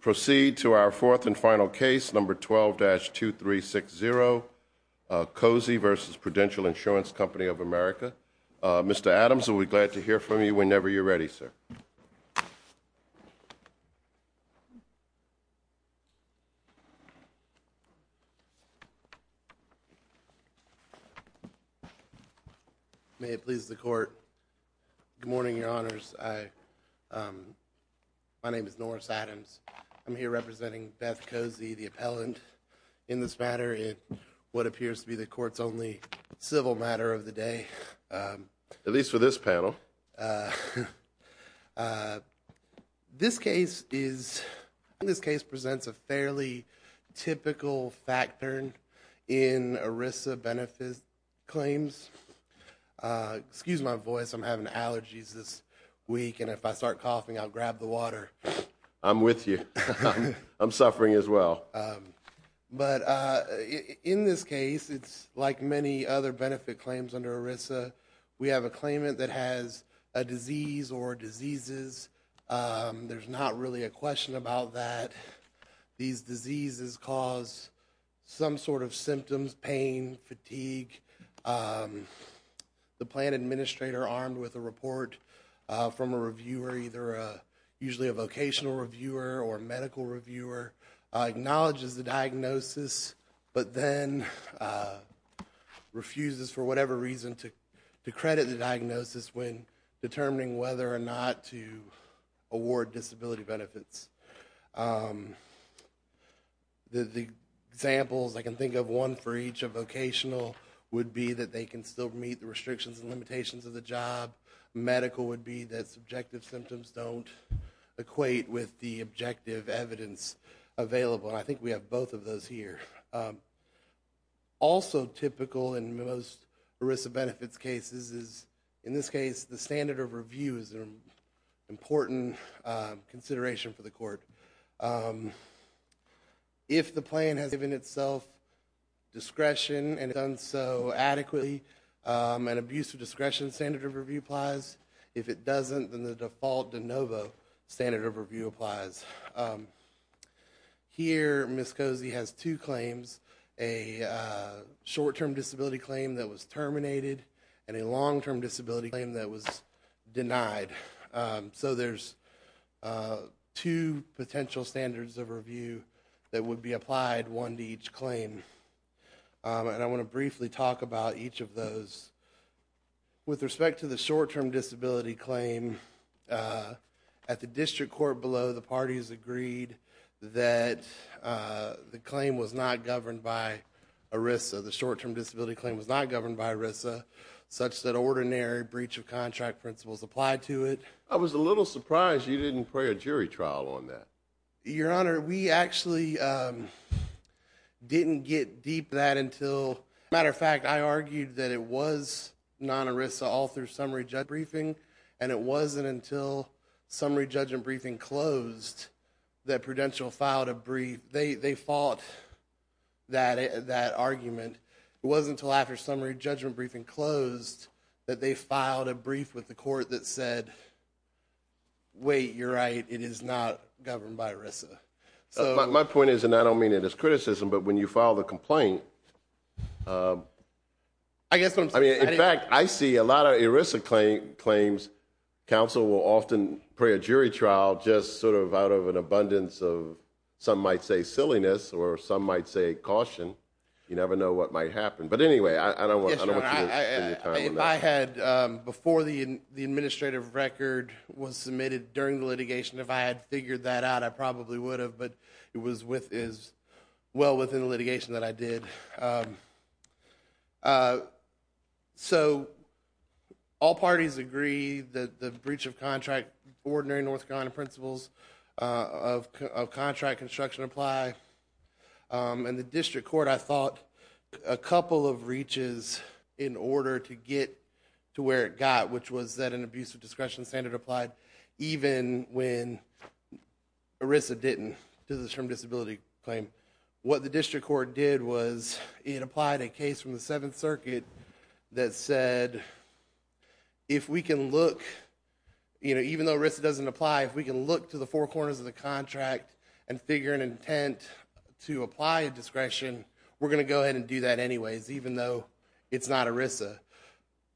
Proceed to our fourth and final case, number 12-2360, Cosey v. Prudential Insurance Company of America. Mr. Adams, we'll be glad to hear from you whenever you're ready, sir. May it please the Court, good morning, Your Honors. My name is Norris Adams. I'm here representing Beth Cosey, the appellant in this matter in what appears to be the Court's only civil matter of the day. At least for this panel. This case presents a fairly typical factor in ERISA benefit claims. Excuse my voice, I'm having allergies this week, and if I start coughing, I'll grab the water. I'm with you. I'm suffering as well. In this case, it's like many other benefit claims under ERISA, we have a claimant that has a disease or diseases. There's not really a question about that. These diseases cause some sort of symptoms, pain, fatigue. The plan administrator armed with a report from a reviewer, usually a vocational reviewer or medical reviewer, acknowledges the diagnosis, but then refuses for whatever reason to credit the diagnosis when determining whether or not to award disability benefits. The examples I can think of, one for each of vocational would be that they can still meet the restrictions and limitations of the job. A medical would be that subjective symptoms don't equate with the objective evidence available. I think we have both of those here. Also typical in most ERISA benefits cases is, in this case, the standard of review is an important consideration for the Court. If the plan has given itself discretion and done so adequately, an abuse of discretion standard of review applies. If it doesn't, then the default de novo standard of review applies. Here, Ms. Cozy has two claims, a short-term disability claim that was terminated and a long-term disability claim that was denied. There's two potential standards of review that would be applied, one to each claim. I want to briefly talk about each of those. With respect to the short-term disability claim, at the district court below, the parties agreed that the claim was not governed by ERISA. The short-term disability claim was not governed by ERISA, such that ordinary breach of contract principles applied to it. I was a little surprised you didn't pray a jury trial on that. Your Honor, we actually didn't get deep into that until, as a matter of fact, I argued that it was non-ERISA all through summary judge briefing. It wasn't until summary judge briefing closed that Prudential filed a brief. They fought that argument. It wasn't until after summary judgment briefing closed that they filed a brief with the court that said, wait, you're right, it is not governed by ERISA. My point is, and I don't mean it as criticism, but when you file the complaint, I mean, in fact, I see a lot of ERISA claims, counsel will often pray a jury trial just sort of out of an abundance of, some might say silliness, or some might say caution. You never know what might happen. But anyway, I don't want you to spend your time on that. I had, before the administrative record was submitted during the litigation, if I had figured that out, I probably would have. But it was well within the litigation that I did. So, all parties agree that the breach of contract, ordinary North Carolina principles of contract construction apply. And the district court, I thought, a couple of reaches in order to get to where it got, which was that an abusive discretion standard applied, even when ERISA didn't, to the term disability claim. What the district court did was, it applied a case from the Seventh Circuit that said, if we can look, even though ERISA doesn't apply, if we can look to the four corners of the contract and figure an intent to apply a discretion, we're going to go ahead and do that anyways, even though it's not ERISA.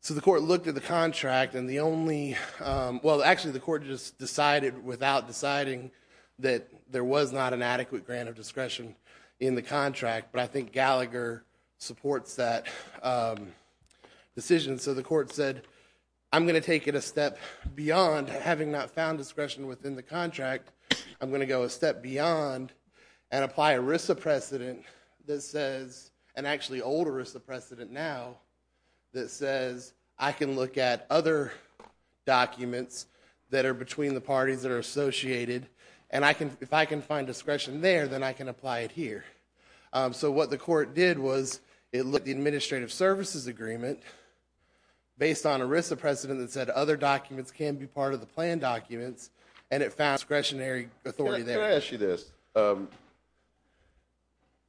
So the court looked at the contract, and the only, well, actually the court just decided without deciding that there was not an adequate grant of discretion in the contract, but I think Gallagher supports that decision. So the court said, I'm going to take it a step beyond having not found discretion within the contract. I'm going to go a step beyond and apply ERISA precedent that says, and actually older ERISA precedent now, that says I can look at other documents that are between the parties that are associated, and if I can find discretion there, then I can apply it here. So what the court did was, it looked at the administrative services agreement, based on ERISA precedent that said other documents can be part of the plan documents, and it found discretionary authority there. Let me ask you this.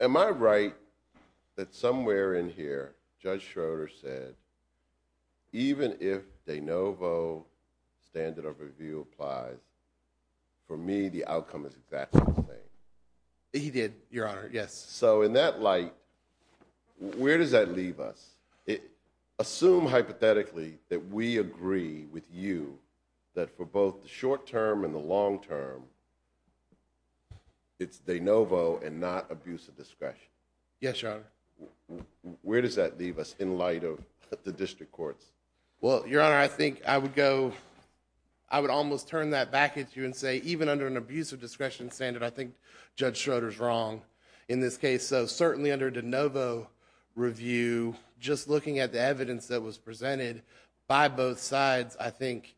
Am I right that somewhere in here, Judge Schroeder said, even if de novo standard of review applies, for me the outcome is exactly the same? He did, Your Honor, yes. So in that light, where does that leave us? Assume hypothetically that we agree with you that for both the short term and the long term, it's de novo and not abuse of discretion. Yes, Your Honor. Where does that leave us in light of the district courts? Well, Your Honor, I think I would go, I would almost turn that back at you and say even under an abuse of discretion standard, I think Judge Schroeder's wrong in this case. So certainly under de novo review, just looking at the evidence that was presented by both sides, I think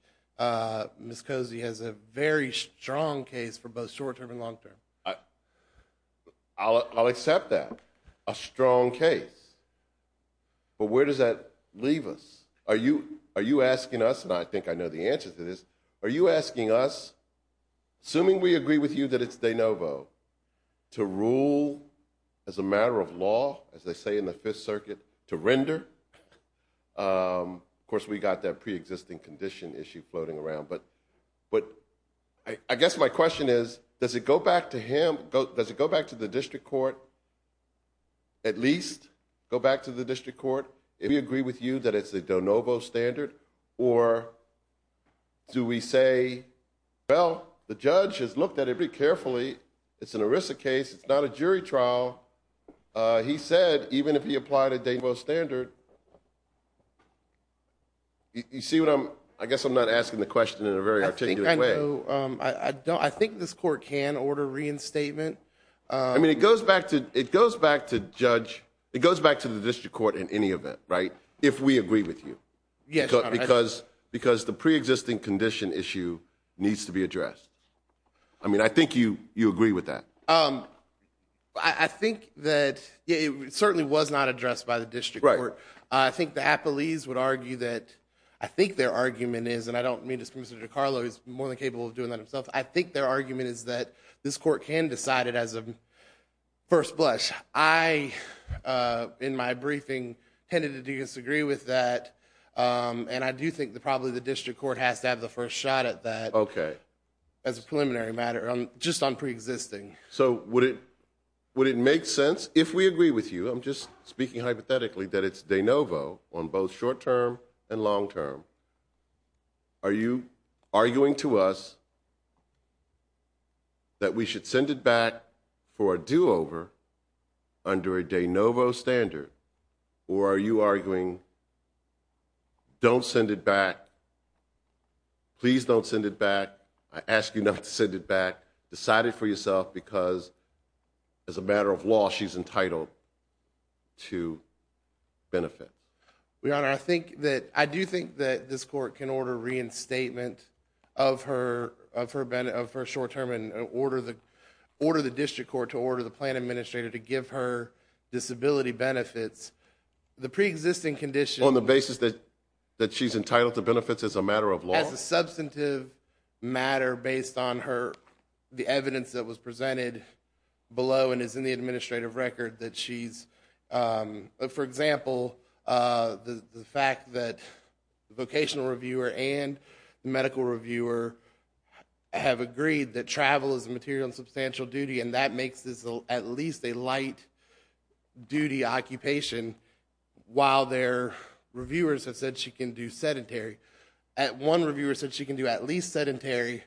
Ms. Cozy has a very strong case for both short term and long term. I'll accept that. A strong case. But where does that leave us? Are you asking us, and I think I know the answer to this, are you asking us, assuming we agree with you that it's de novo, to rule as a matter of law, as they say in the Fifth Circuit, to render? Of course, we got that preexisting condition issue floating around. But I guess my question is, does it go back to him, does it go back to the district court, at least go back to the district court, if we agree with you that it's a de novo standard? Or do we say, well, the judge has looked at it very carefully. It's an ERISA case. It's not a jury trial. He said even if he applied a de novo standard, you see what I'm, I guess I'm not asking the question in a very articulate way. I think this court can order reinstatement. I mean, it goes back to judge, it goes back to the district court in any event, right, if we agree with you. Because the preexisting condition issue needs to be addressed. I mean, I think you agree with that. I think that it certainly was not addressed by the district court. Right. I think the appellees would argue that, I think their argument is, and I don't mean this from Mr. DiCarlo, he's more than capable of doing that himself. I think their argument is that this court can decide it as a first blush. I, in my briefing, tended to disagree with that. And I do think that probably the district court has to have the first shot at that. Okay. As a preliminary matter, just on preexisting. So would it make sense, if we agree with you, I'm just speaking hypothetically, that it's de novo on both short-term and long-term. Are you arguing to us that we should send it back for a do-over under a de novo standard? Or are you arguing, don't send it back, please don't send it back, I ask you not to send it back, decide it for yourself, because as a matter of law, she's entitled to benefit. Your Honor, I think that, I do think that this court can order reinstatement of her short-term and order the district court to order the plan administrator to give her disability benefits. The preexisting condition. On the basis that she's entitled to benefits as a matter of law? As a substantive matter based on her, the evidence that was presented below and is in the administrative record that she's, for example, the fact that the vocational reviewer and the medical reviewer have agreed that travel is a material and substantial duty and that makes this at least a light duty occupation while their reviewers have said she can do sedentary. One reviewer said she can do at least sedentary,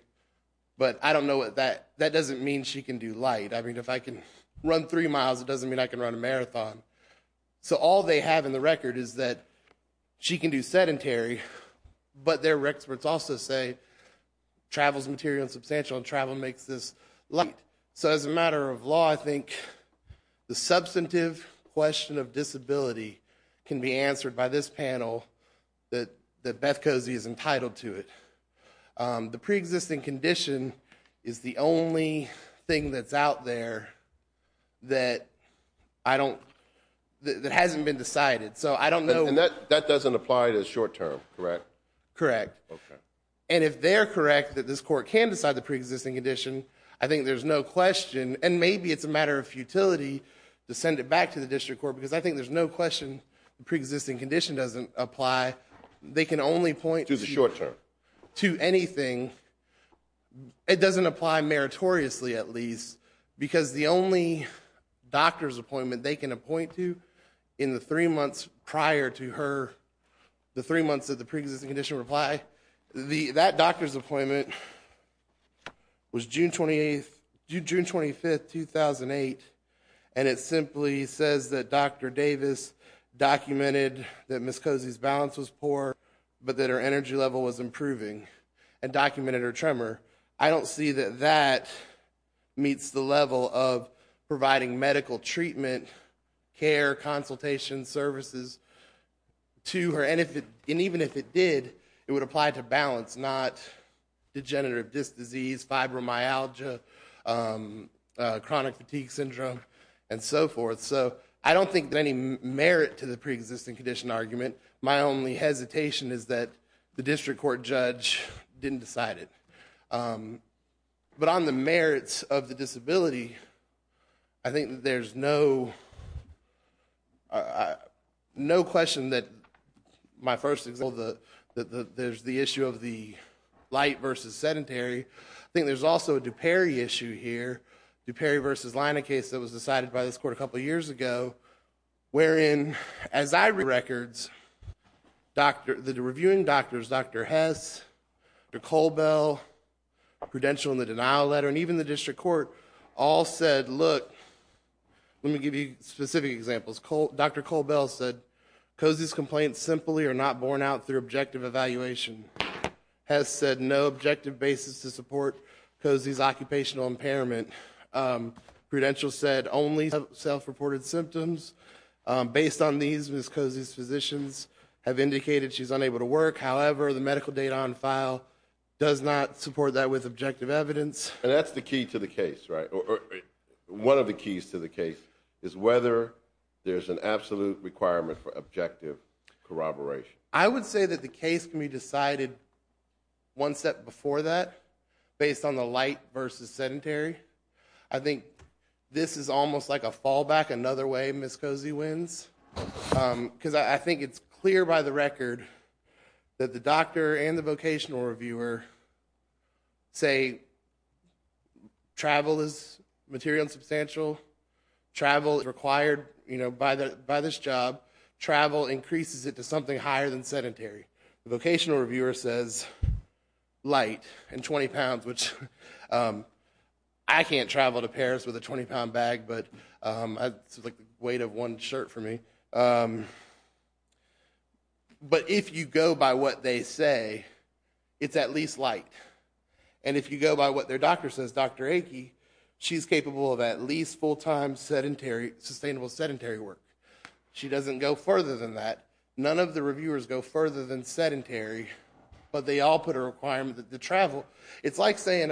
but I don't know what that, that doesn't mean she can do light. I mean, if I can run three miles, it doesn't mean I can run a marathon. So all they have in the record is that she can do sedentary, but their experts also say travel is material and substantial and travel makes this light. So as a matter of law, I think the substantive question of disability can be answered by this panel that Beth Cozy is entitled to it. The preexisting condition is the only thing that's out there that I don't, that hasn't been decided. So I don't know. And that doesn't apply to the short term, correct? Correct. Okay. And if they're correct that this court can decide the preexisting condition, I think there's no question, and maybe it's a matter of futility, to send it back to the district court because I think there's no question the preexisting condition doesn't apply. They can only point to the short term. To anything, it doesn't apply meritoriously at least because the only doctor's appointment they can appoint to in the three months prior to her, the three months that the preexisting condition reply, that doctor's appointment was June 28th, June 25th, 2008, and it simply says that Dr. Davis documented that Ms. Cozy's balance was poor but that her energy level was improving and documented her tremor. I don't see that that meets the level of providing medical treatment, care, consultation, services to her. And even if it did, it would apply to balance, not degenerative disc disease, fibromyalgia, chronic fatigue syndrome, and so forth. So I don't think that any merit to the preexisting condition argument. My only hesitation is that the district court judge didn't decide it. But on the merits of the disability, I think that there's no question that my first example, that there's the issue of the light versus sedentary. I think there's also a DuPere issue here, DuPere versus Leine case that was decided by this court a couple years ago, wherein, as I read records, the reviewing doctors, Dr. Hess, Dr. Colbell, Prudential in the denial letter, and even the district court, all said, look, let me give you specific examples. Dr. Colbell said Cozy's complaints simply are not borne out through objective evaluation. Hess said no objective basis to support Cozy's occupational impairment. Prudential said only self-reported symptoms. Based on these, Ms. Cozy's physicians have indicated she's unable to work. However, the medical data on file does not support that with objective evidence. And that's the key to the case, right? One of the keys to the case is whether there's an absolute requirement for objective corroboration. I would say that the case can be decided one step before that, based on the light versus sedentary. I think this is almost like a fallback, another way Ms. Cozy wins. Because I think it's clear by the record that the doctor and the vocational reviewer say travel is material and substantial. Travel is required by this job. Travel increases it to something higher than sedentary. The vocational reviewer says light and 20 pounds, which I can't travel to Paris with a 20-pound bag, but it's the weight of one shirt for me. But if you go by what they say, it's at least light. And if you go by what their doctor says, Dr. Achey, she's capable of at least full-time, sustainable sedentary work. She doesn't go further than that. None of the reviewers go further than sedentary, but they all put a requirement that the travel... It's like saying...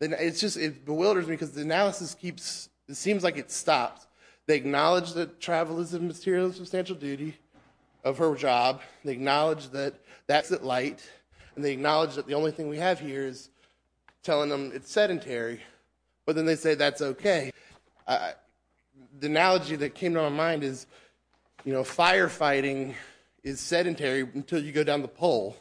It just bewilders me because the analysis keeps... It seems like it stops. They acknowledge that travel is a material and substantial duty of her job. They acknowledge that that's at light. And they acknowledge that the only thing we have here is telling them it's sedentary. But then they say that's okay. The analogy that came to my mind is, you know, firefighting is sedentary until you go down the pole.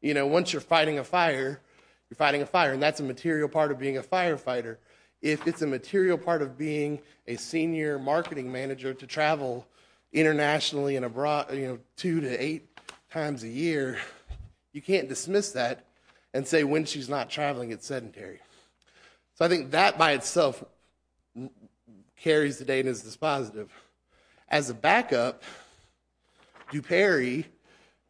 You know, once you're fighting a fire, you're fighting a fire, and that's a material part of being a firefighter. If it's a material part of being a senior marketing manager to travel internationally and abroad, you know, two to eight times a year, you can't dismiss that and say when she's not traveling, it's sedentary. So I think that by itself carries the data and is dispositive. As a backup, Duperry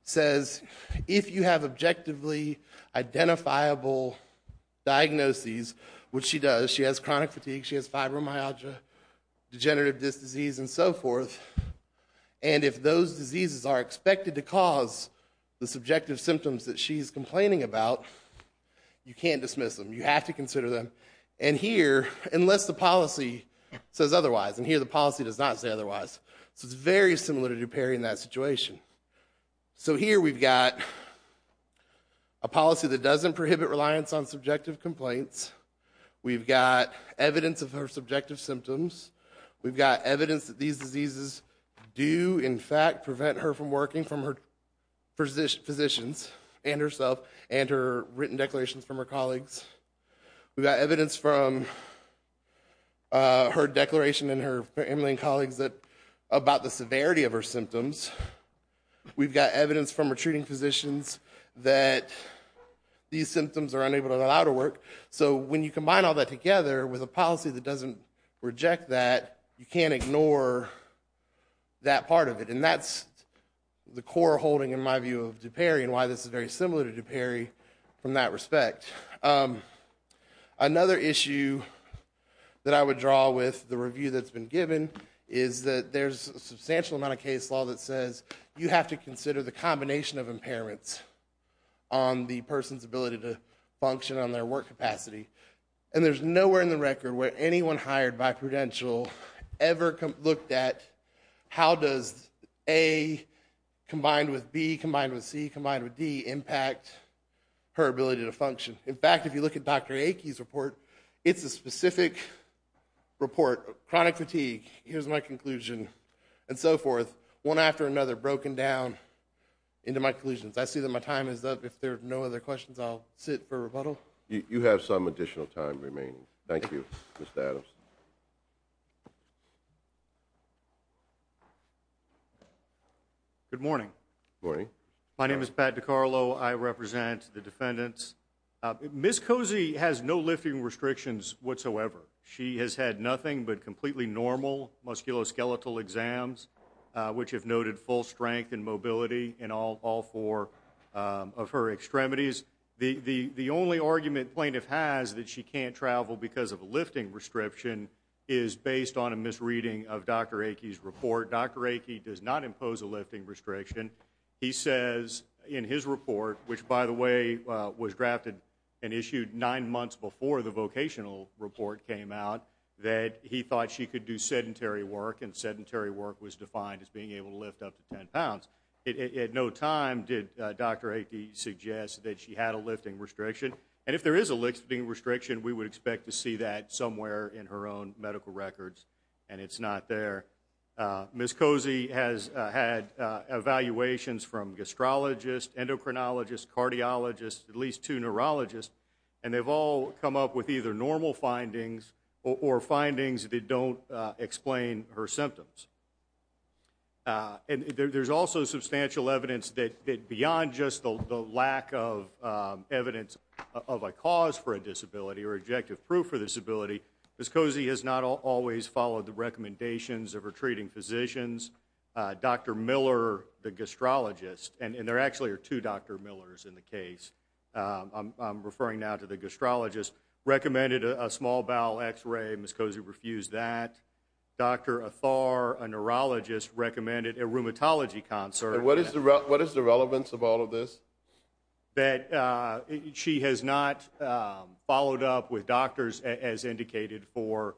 says if you have objectively identifiable diagnoses, which she does. She has chronic fatigue. She has fibromyalgia, degenerative disc disease, and so forth. And if those diseases are expected to cause the subjective symptoms that she's complaining about, you can't dismiss them. You have to consider them. And here, unless the policy says otherwise, and here the policy does not say otherwise, so it's very similar to Duperry in that situation. So here we've got a policy that doesn't prohibit reliance on subjective complaints. We've got evidence of her subjective symptoms. We've got evidence that these diseases do, in fact, prevent her from working from her physicians and herself and her written declarations from her colleagues. We've got evidence from her declaration and her family and colleagues about the severity of her symptoms. We've got evidence from her treating physicians that these symptoms are unable to allow her to work. So when you combine all that together with a policy that doesn't reject that, you can't ignore that part of it. And that's the core holding, in my view, of Duperry and why this is very similar to Duperry from that respect. Another issue that I would draw with the review that's been given is that there's a substantial amount of case law that says you have to consider the combination of impairments on the person's ability to function on their work capacity. And there's nowhere in the record where anyone hired by Prudential ever looked at how does A combined with B combined with C combined with D impact her ability to function. In fact, if you look at Dr. Aikie's report, it's a specific report, chronic fatigue, here's my conclusion, and so forth, one after another broken down into my conclusions. I see that my time is up. If there are no other questions, I'll sit for rebuttal. You have some additional time remaining. Thank you. Mr. Adams. Good morning. Morning. My name is Pat DiCarlo. I represent the defendants. Ms. Cozy has no lifting restrictions whatsoever. She has had nothing but completely normal musculoskeletal exams, which have noted full strength and mobility in all four of her extremities. The only argument plaintiff has that she can't travel because of a lifting restriction is based on a misreading of Dr. Aikie's report. Dr. Aikie does not impose a lifting restriction. He says in his report, which, by the way, was drafted and issued nine months before the vocational report came out, that he thought she could do sedentary work, and sedentary work was defined as being able to lift up to 10 pounds. At no time did Dr. Aikie suggest that she had a lifting restriction. And if there is a lifting restriction, we would expect to see that somewhere in her own medical records, and it's not there. Ms. Cozy has had evaluations from gastrologists, endocrinologists, cardiologists, at least two neurologists, and they've all come up with either normal findings or findings that don't explain her symptoms. And there's also substantial evidence that beyond just the lack of evidence of a cause for a disability or objective proof for a disability, Ms. Cozy has not always followed the recommendations of her treating physicians. Dr. Miller, the gastrologist, and there actually are two Dr. Millers in the case, I'm referring now to the gastrologist, recommended a small bowel x-ray. Ms. Cozy refused that. Dr. Athar, a neurologist, recommended a rheumatology consult. And what is the relevance of all of this? That she has not followed up with doctors as indicated for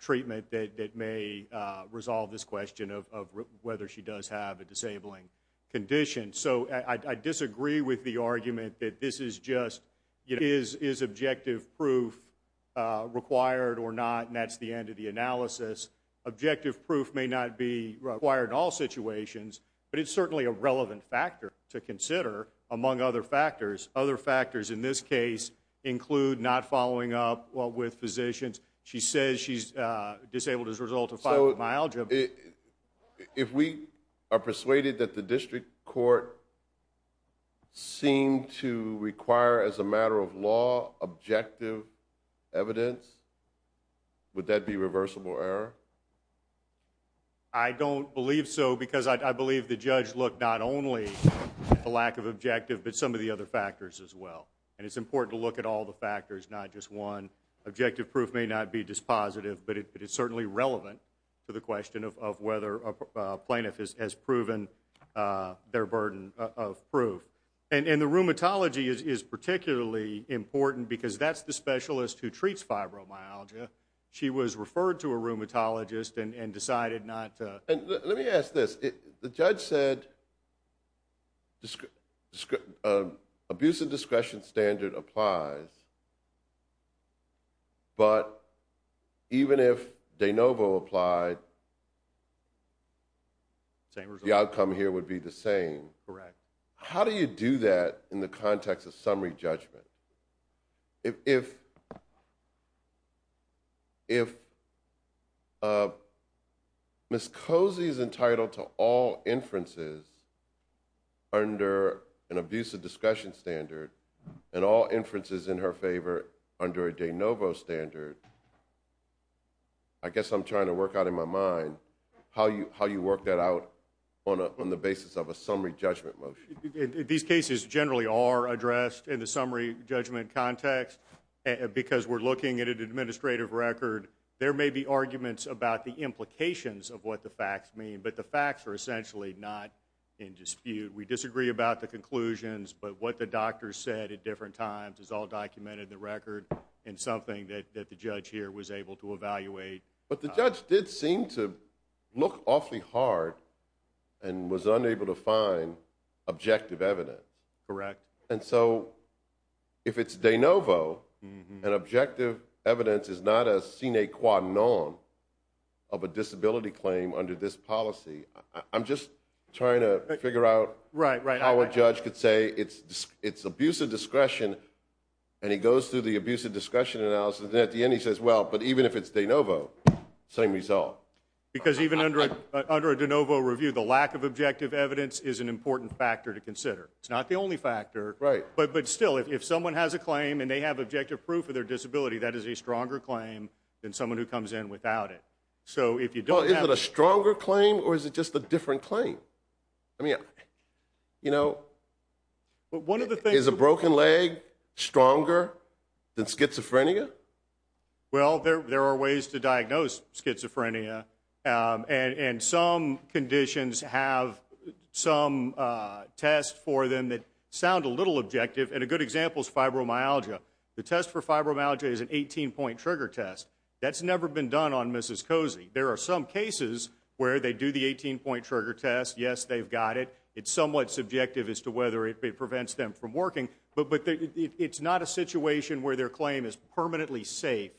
treatment that may resolve this question of whether she does have a disabling condition. So I disagree with the argument that this is just, is objective proof required or not, and that's the end of the analysis. Objective proof may not be required in all situations, but it's certainly a relevant factor to consider, among other factors. Other factors in this case include not following up with physicians. She says she's disabled as a result of fibromyalgia. If we are persuaded that the district court seemed to require, as a matter of law, objective evidence, would that be reversible error? I don't believe so because I believe the judge looked not only at the lack of objective, but some of the other factors as well. And it's important to look at all the factors, not just one. Objective proof may not be dispositive, but it's certainly relevant to the question of whether a plaintiff has proven their burden of proof. And the rheumatology is particularly important because that's the specialist who treats fibromyalgia. She was referred to a rheumatologist and decided not to. Let me ask this. The judge said abuse of discretion standard applies, but even if de novo applied, the outcome here would be the same. Correct. How do you do that in the context of summary judgment? If Ms. Cozy is entitled to all inferences under an abuse of discretion standard and all inferences in her favor under a de novo standard, I guess I'm trying to work out in my mind how you work that out on the basis of a summary judgment motion. These cases generally are addressed in the summary judgment context because we're looking at an administrative record. There may be arguments about the implications of what the facts mean, but the facts are essentially not in dispute. We disagree about the conclusions, but what the doctors said at different times is all documented in the record and something that the judge here was able to evaluate. But the judge did seem to look awfully hard and was unable to find objective evidence. Correct. And so if it's de novo and objective evidence is not a sine qua non of a disability claim under this policy, I'm just trying to figure out how a judge could say it's abuse of discretion and he goes through the abuse of discussion analysis and at the end he says, well, but even if it's de novo, same result. Because even under a de novo review, the lack of objective evidence is an important factor to consider. It's not the only factor. Right. But still, if someone has a claim and they have objective proof of their disability, that is a stronger claim than someone who comes in without it. So if you don't have... Is it a stronger claim or is it just a different claim? I mean, you know... But one of the things... Is a broken leg stronger than schizophrenia? Well, there are ways to diagnose schizophrenia and some conditions have some tests for them that sound a little objective. And a good example is fibromyalgia. The test for fibromyalgia is an 18-point trigger test. That's never been done on Mrs. Cozy. There are some cases where they do the 18-point trigger test. Yes, they've got it. It's somewhat subjective as to whether it prevents them from working. But it's not a situation where their claim is permanently safe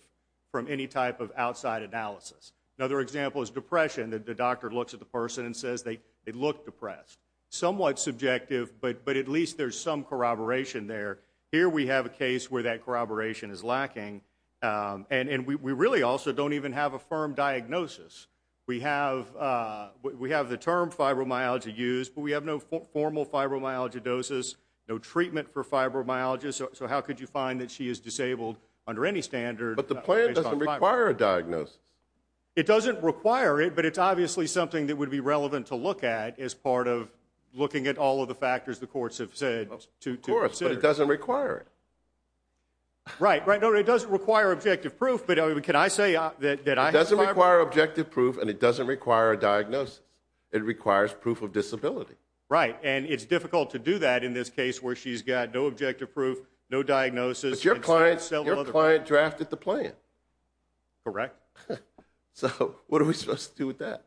from any type of outside analysis. Another example is depression. The doctor looks at the person and says they look depressed. Somewhat subjective, but at least there's some corroboration there. Here we have a case where that corroboration is lacking. And we really also don't even have a firm diagnosis. We have the term fibromyalgia used, but we have no formal fibromyalgia doses, no treatment for fibromyalgia. So how could you find that she is disabled under any standard? But the plan doesn't require a diagnosis. It doesn't require it, but it's obviously something that would be relevant to look at as part of looking at all of the factors the courts have said to consider. Of course, but it doesn't require it. Right, right. No, it doesn't require objective proof, but can I say that I have fiber? It doesn't require objective proof, and it doesn't require a diagnosis. It requires proof of disability. Right, and it's difficult to do that in this case where she's got no objective proof, no diagnosis. But your client drafted the plan. Correct. So what are we supposed to do with that?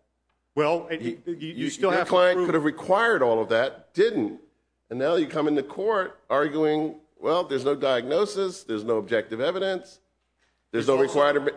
Well, you still have to prove it. Your client could have required all of that, didn't. And now you come into court arguing, well, there's no diagnosis, there's no objective evidence, there's no requirement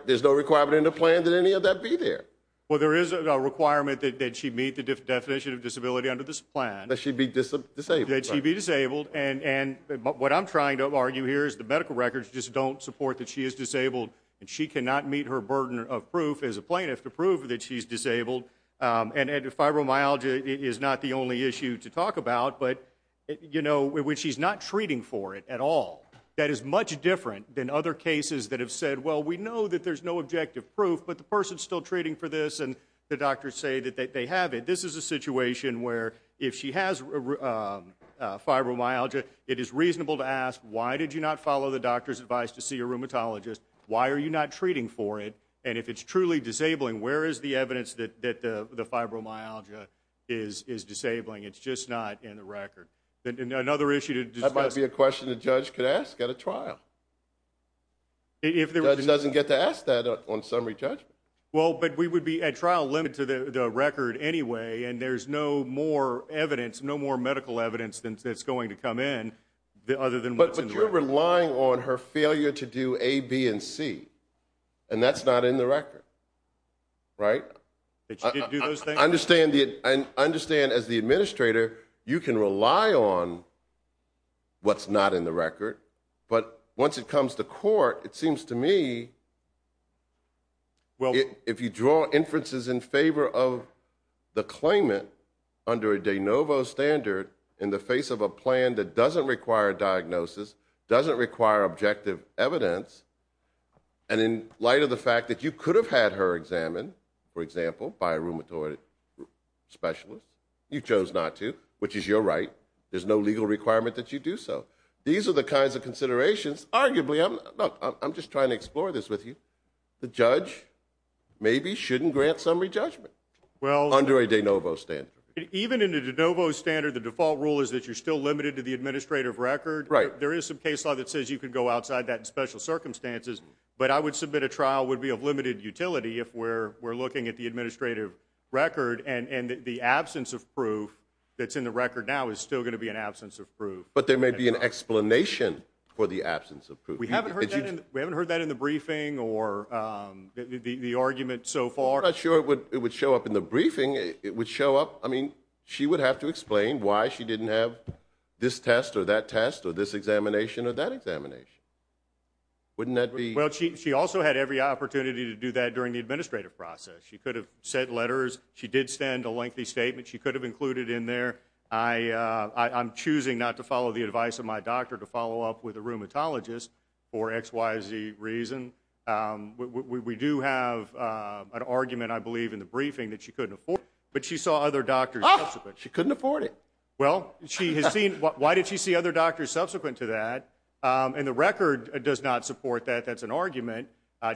in the plan that any of that be there. Well, there is a requirement that she meet the definition of disability under this plan. That she be disabled. That she be disabled, and what I'm trying to argue here is the medical records just don't support that she is disabled, and she cannot meet her burden of proof as a plaintiff to prove that she's disabled. And fibromyalgia is not the only issue to talk about, but when she's not treating for it at all, that is much different than other cases that have said, well, we know that there's no objective proof, but the person's still treating for this, and the doctors say that they have it. This is a situation where if she has fibromyalgia, it is reasonable to ask, why did you not follow the doctor's advice to see a rheumatologist? Why are you not treating for it? And if it's truly disabling, where is the evidence that the fibromyalgia is disabling? It's just not in the record. Another issue to discuss. That might be a question a judge could ask at a trial. A judge doesn't get to ask that on summary judgment. Well, but we would be at trial limited to the record anyway, and there's no more evidence, no more medical evidence that's going to come in other than what's in the record. She's relying on her failure to do A, B, and C, and that's not in the record, right? Did she do those things? I understand as the administrator, you can rely on what's not in the record, but once it comes to court, it seems to me if you draw inferences in favor of the claimant under a de novo standard in the face of a plan that doesn't require diagnosis, doesn't require objective evidence, and in light of the fact that you could have had her examined, for example, by a rheumatoid specialist, you chose not to, which is your right. There's no legal requirement that you do so. These are the kinds of considerations. Arguably, I'm just trying to explore this with you. The judge maybe shouldn't grant summary judgment under a de novo standard. Even in a de novo standard, the default rule is that you're still limited to the administrative record. There is some case law that says you can go outside that in special circumstances, but I would submit a trial would be of limited utility if we're looking at the administrative record and the absence of proof that's in the record now is still going to be an absence of proof. But there may be an explanation for the absence of proof. We haven't heard that in the briefing or the argument so far. I'm not sure it would show up in the briefing. I mean, she would have to explain why she didn't have this test or that test or this examination or that examination. Wouldn't that be? Well, she also had every opportunity to do that during the administrative process. She could have sent letters. She did send a lengthy statement she could have included in there. I'm choosing not to follow the advice of my doctor to follow up with a rheumatologist for X, Y, Z reason. We do have an argument, I believe, in the briefing that she couldn't afford, but she saw other doctors. She couldn't afford it. Well, she has seen. Why did she see other doctors subsequent to that? And the record does not support that. That's an argument.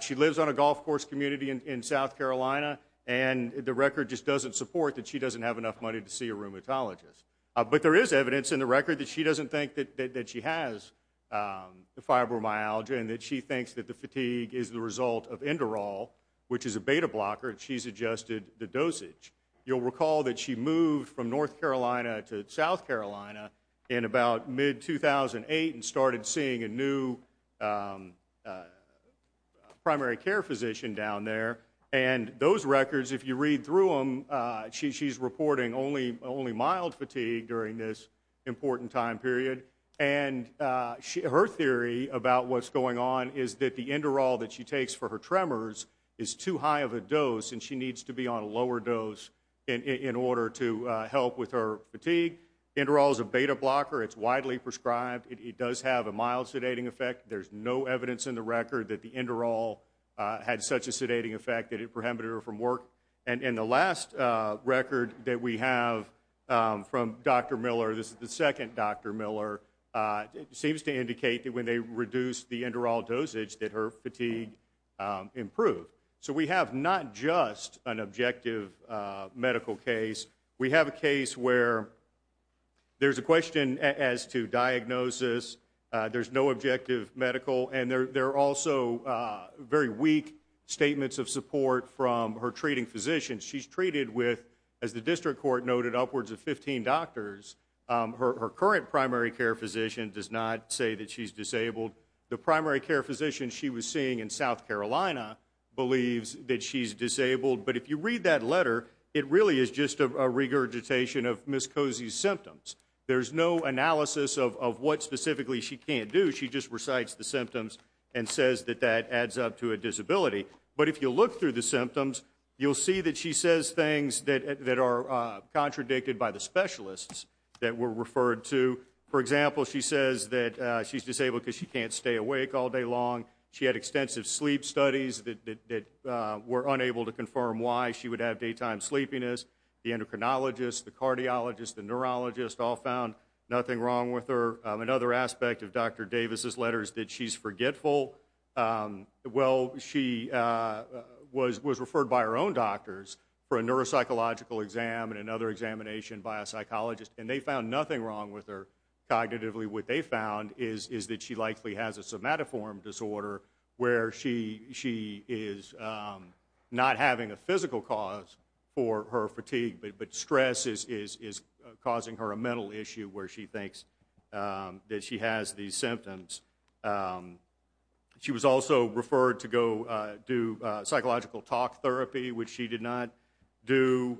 She lives on a golf course community in South Carolina, and the record just doesn't support that she doesn't have enough money to see a rheumatologist. But there is evidence in the record that she doesn't think that she has the fibromyalgia and that she thinks that the fatigue is the result of Enderol, which is a beta blocker. She's adjusted the dosage. You'll recall that she moved from North Carolina to South Carolina in about mid-2008 and started seeing a new primary care physician down there. And those records, if you read through them, she's reporting only mild fatigue during this important time period. And her theory about what's going on is that the Enderol that she takes for her tremors is too high of a dose, and she needs to be on a lower dose in order to help with her fatigue. Enderol is a beta blocker. It's widely prescribed. It does have a mild sedating effect. There's no evidence in the record that the Enderol had such a sedating effect that it prohibited her from work. And in the last record that we have from Dr. Miller, this is the second Dr. Miller, it seems to indicate that when they reduced the Enderol dosage that her fatigue improved. So we have not just an objective medical case. We have a case where there's a question as to diagnosis. There's no objective medical. And there are also very weak statements of support from her treating physicians. She's treated with, as the district court noted, upwards of 15 doctors. Her current primary care physician does not say that she's disabled. The primary care physician she was seeing in South Carolina believes that she's disabled. But if you read that letter, it really is just a regurgitation of Ms. Cozy's symptoms. There's no analysis of what specifically she can't do. She just recites the symptoms and says that that adds up to a disability. But if you look through the symptoms, you'll see that she says things that are contradicted by the specialists that were referred to. For example, she says that she's disabled because she can't stay awake all day long. She had extensive sleep studies that were unable to confirm why she would have daytime sleepiness. The endocrinologist, the cardiologist, the neurologist all found nothing wrong with her. Another aspect of Dr. Davis's letter is that she's forgetful. Well, she was referred by her own doctors for a neuropsychological exam and another examination by a psychologist, and they found nothing wrong with her cognitively. What they found is that she likely has a somatoform disorder where she is not having a physical cause for her fatigue, but stress is causing her a mental issue where she thinks that she has these symptoms. She was also referred to go do psychological talk therapy, which she did not do.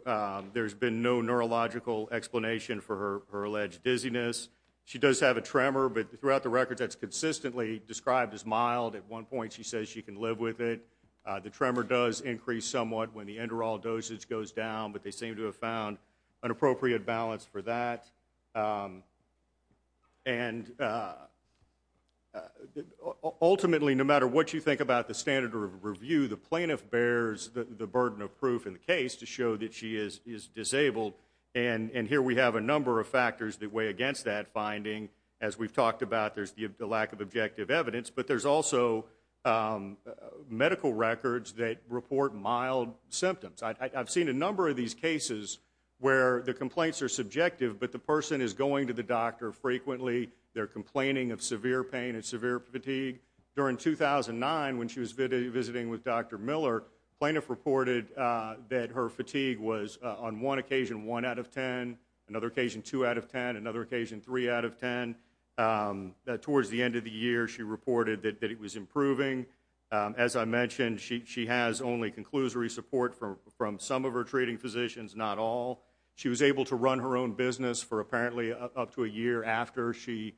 There's been no neurological explanation for her alleged dizziness. She does have a tremor, but throughout the record, that's consistently described as mild. At one point, she says she can live with it. The tremor does increase somewhat when the enderol dosage goes down, but they seem to have found an appropriate balance for that. Ultimately, no matter what you think about the standard of review, the plaintiff bears the burden of proof in the case to show that she is disabled. Here we have a number of factors that weigh against that finding. As we've talked about, there's the lack of objective evidence, but there's also medical records that report mild symptoms. I've seen a number of these cases where the complaints are subjective, but the person is going to the doctor frequently. They're complaining of severe pain and severe fatigue. During 2009, when she was visiting with Dr. Miller, the plaintiff reported that her fatigue was on one occasion 1 out of 10, another occasion 2 out of 10, another occasion 3 out of 10. Towards the end of the year, she reported that it was improving. As I mentioned, she has only conclusory support from some of her treating physicians, not all. She was able to run her own business for apparently up to a year after she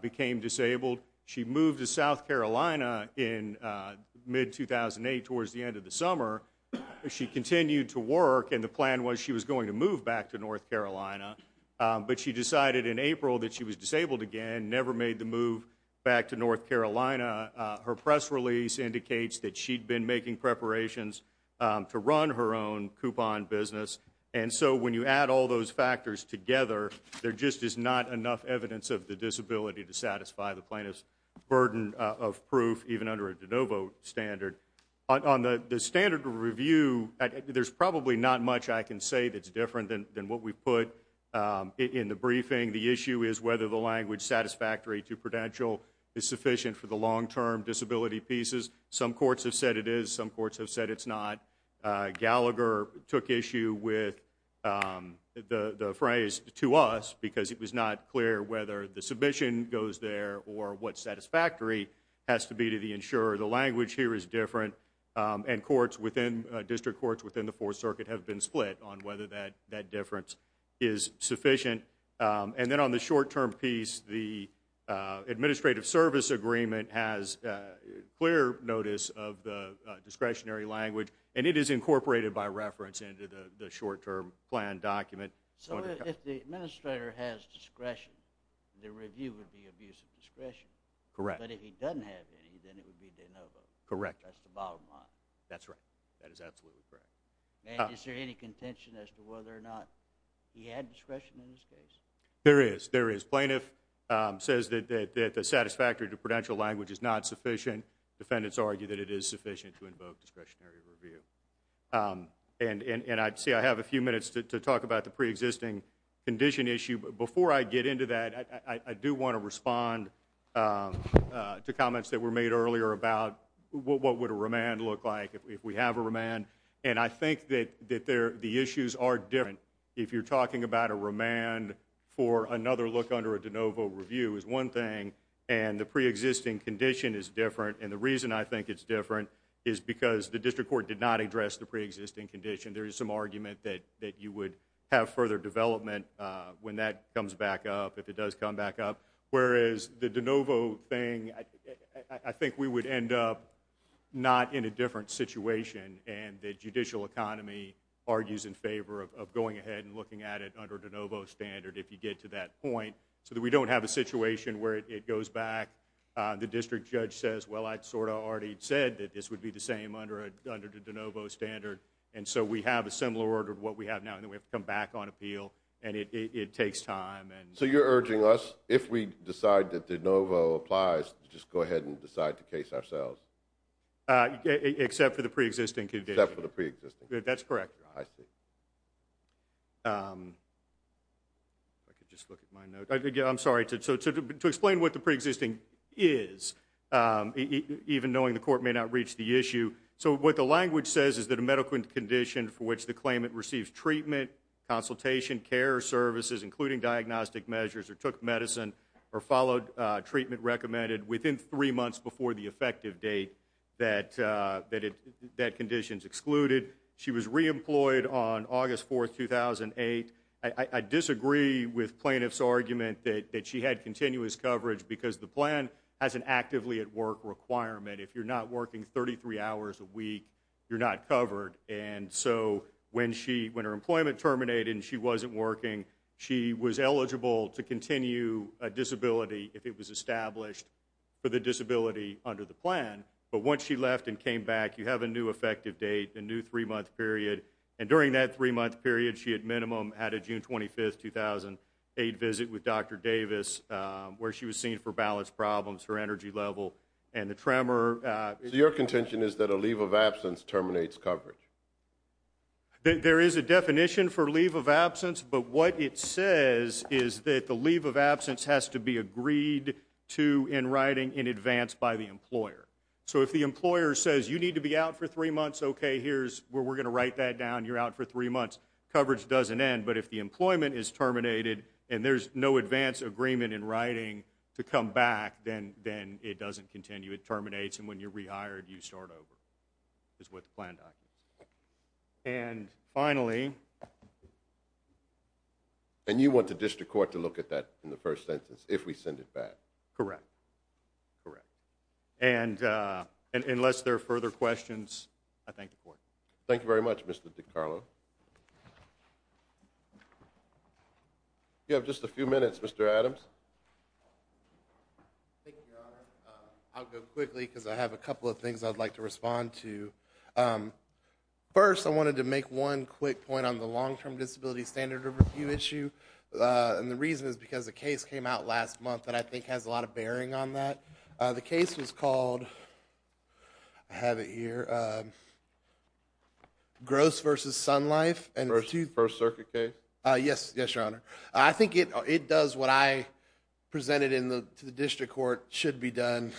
became disabled. She moved to South Carolina in mid-2008 towards the end of the summer. She continued to work, and the plan was she was going to move back to North Carolina, but she decided in April that she was disabled again, never made the move back to North Carolina. Her press release indicates that she'd been making preparations to run her own coupon business, and so when you add all those factors together, there just is not enough evidence of the disability to satisfy the plaintiff's burden of proof, even under a de novo standard. On the standard review, there's probably not much I can say that's different than what we've put in the briefing. The issue is whether the language satisfactory to prudential is sufficient for the long-term disability pieces. Some courts have said it is. Some courts have said it's not. Gallagher took issue with the phrase to us because it was not clear whether the submission goes there or what satisfactory has to be to the insurer. The language here is different, and district courts within the Fourth Circuit have been split on whether that difference is sufficient. And then on the short-term piece, the administrative service agreement has clear notice of the discretionary language, and it is incorporated by reference into the short-term plan document. So if the administrator has discretion, the review would be abuse of discretion. Correct. But if he doesn't have any, then it would be de novo. Correct. That's the bottom line. That's right. That is absolutely correct. And is there any contention as to whether or not he had discretion in this case? There is. There is. Plaintiff says that the satisfactory to prudential language is not sufficient. Defendants argue that it is sufficient to invoke discretionary review. And I'd say I have a few minutes to talk about the preexisting condition issue. But before I get into that, I do want to respond to comments that were made earlier about what would a remand look like, if we have a remand. And I think that the issues are different. If you're talking about a remand for another look under a de novo review is one thing, and the preexisting condition is different. And the reason I think it's different is because the district court did not address the preexisting condition. There is some argument that you would have further development when that comes back up, if it does come back up. Whereas the de novo thing, I think we would end up not in a different situation, and the judicial economy argues in favor of going ahead and looking at it under de novo standard, if you get to that point, so that we don't have a situation where it goes back. The district judge says, well, I sort of already said that this would be the same under the de novo standard. And so we have a similar order to what we have now, and then we have to come back on appeal, and it takes time. So you're urging us, if we decide that de novo applies, to just go ahead and decide the case ourselves? Except for the preexisting condition. Except for the preexisting condition. That's correct. I see. If I could just look at my notes. I'm sorry. To explain what the preexisting is, even knowing the court may not reach the issue. So what the language says is that a medical condition for which the claimant receives treatment, consultation, care, services, including diagnostic measures, or took medicine, or followed treatment recommended, within three months before the effective date, that condition is excluded. She was reemployed on August 4, 2008. I disagree with plaintiff's argument that she had continuous coverage, because the plan has an actively at work requirement. If you're not working 33 hours a week, you're not covered. And so when her employment terminated and she wasn't working, she was eligible to continue a disability if it was established for the disability under the plan. But once she left and came back, you have a new effective date, a new three-month period. And during that three-month period, she at minimum had a June 25, 2008 visit with Dr. Davis, where she was seen for balance problems, her energy level, and the tremor. So your contention is that a leave of absence terminates coverage? There is a definition for leave of absence, but what it says is that the leave of absence has to be agreed to in writing in advance by the employer. So if the employer says, you need to be out for three months, okay, here's where we're going to write that down. You're out for three months. Coverage doesn't end, but if the employment is terminated and there's no advance agreement in writing to come back, then it doesn't continue. It terminates, and when you're rehired, you start over, is what the plan documents say. And finally... And you want the district court to look at that in the first sentence, if we send it back? Correct. And unless there are further questions, I thank the court. Thank you very much, Mr. DiCarlo. You have just a few minutes, Mr. Adams. Thank you, Your Honor. I'll go quickly because I have a couple of things I'd like to respond to. First, I wanted to make one quick point on the long-term disability standard review issue, and the reason is because a case came out last month that I think has a lot of bearing on that. The case was called, I have it here, Gross versus Sun Life. First Circuit case? Yes, Your Honor. I think it does what I presented to the district court should be done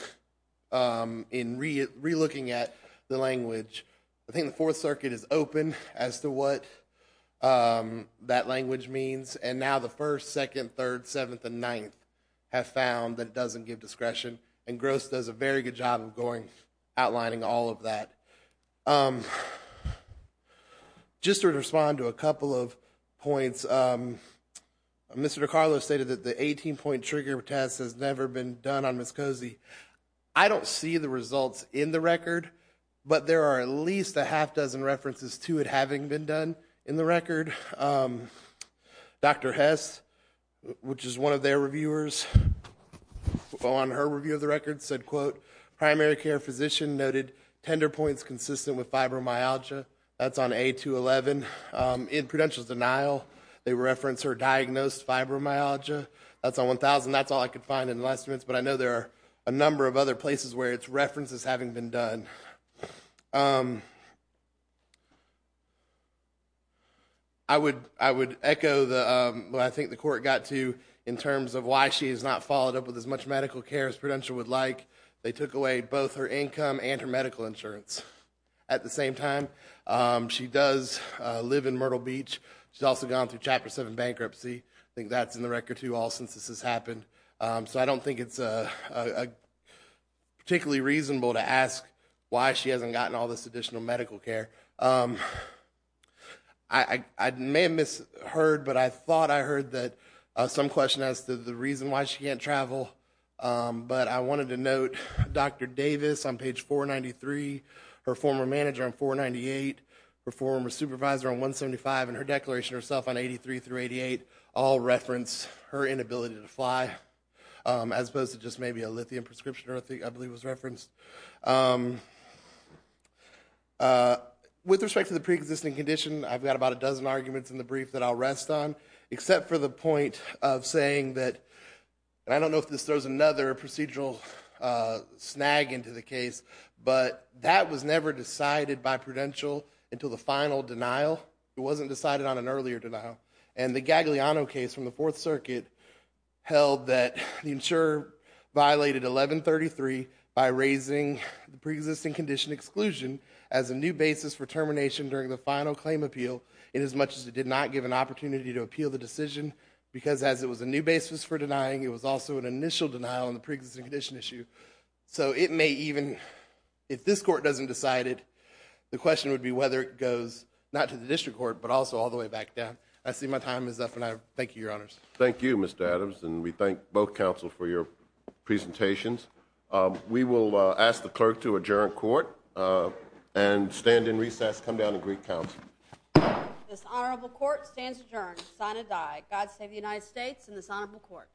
in relooking at the language. I think the Fourth Circuit is open as to what that language means, and now the First, Second, Third, Seventh, and Ninth have found that it doesn't give discretion, and Gross does a very good job of outlining all of that. Just to respond to a couple of points, Mr. DiCarlo stated that the 18-point trigger test has never been done on Ms. Cozy. I don't see the results in the record, but there are at least a half dozen references to it having been done in the record. Dr. Hess, which is one of their reviewers, on her review of the record said, quote, primary care physician noted tender points consistent with fibromyalgia. That's on A211. In Prudential's denial, they referenced her diagnosed fibromyalgia. That's on A1000. That's all I could find in the last few minutes, but I know there are a number of other places where it's referenced as having been done. I would echo what I think the court got to in terms of why she has not followed up with as much medical care as Prudential would like. They took away both her income and her medical insurance at the same time. She does live in Myrtle Beach. She's also gone through Chapter 7 bankruptcy. I think that's in the record, too, all since this has happened. So I don't think it's particularly reasonable to ask why she hasn't gotten all this additional medical care. I may have misheard, but I thought I heard that some question as to the reason why she can't travel, but I wanted to note Dr. Davis on page 493, her former manager on 498, her former supervisor on 175, and her declaration herself on 83 through 88 all reference her inability to fly, as opposed to just maybe a lithium prescription, I believe, was referenced. With respect to the preexisting condition, I've got about a dozen arguments in the brief that I'll rest on, except for the point of saying that, and I don't know if this throws another procedural snag into the case, but that was never decided by prudential until the final denial. It wasn't decided on an earlier denial. And the Gagliano case from the Fourth Circuit held that the insurer violated 1133 by raising the preexisting condition exclusion as a new basis for termination during the final claim appeal inasmuch as it did not give an opportunity to appeal the decision, because as it was a new basis for denying, it was also an initial denial on the preexisting condition issue. So it may even, if this court doesn't decide it, the question would be whether it goes not to the district court, but also all the way back down. I see my time is up, and I thank you, Your Honors. Thank you, Mr. Adams, and we thank both counsel for your presentations. We will ask the clerk to adjourn court and stand in recess. Come down and greet counsel. This honorable court stands adjourned, sign and die. God save the United States and this honorable court.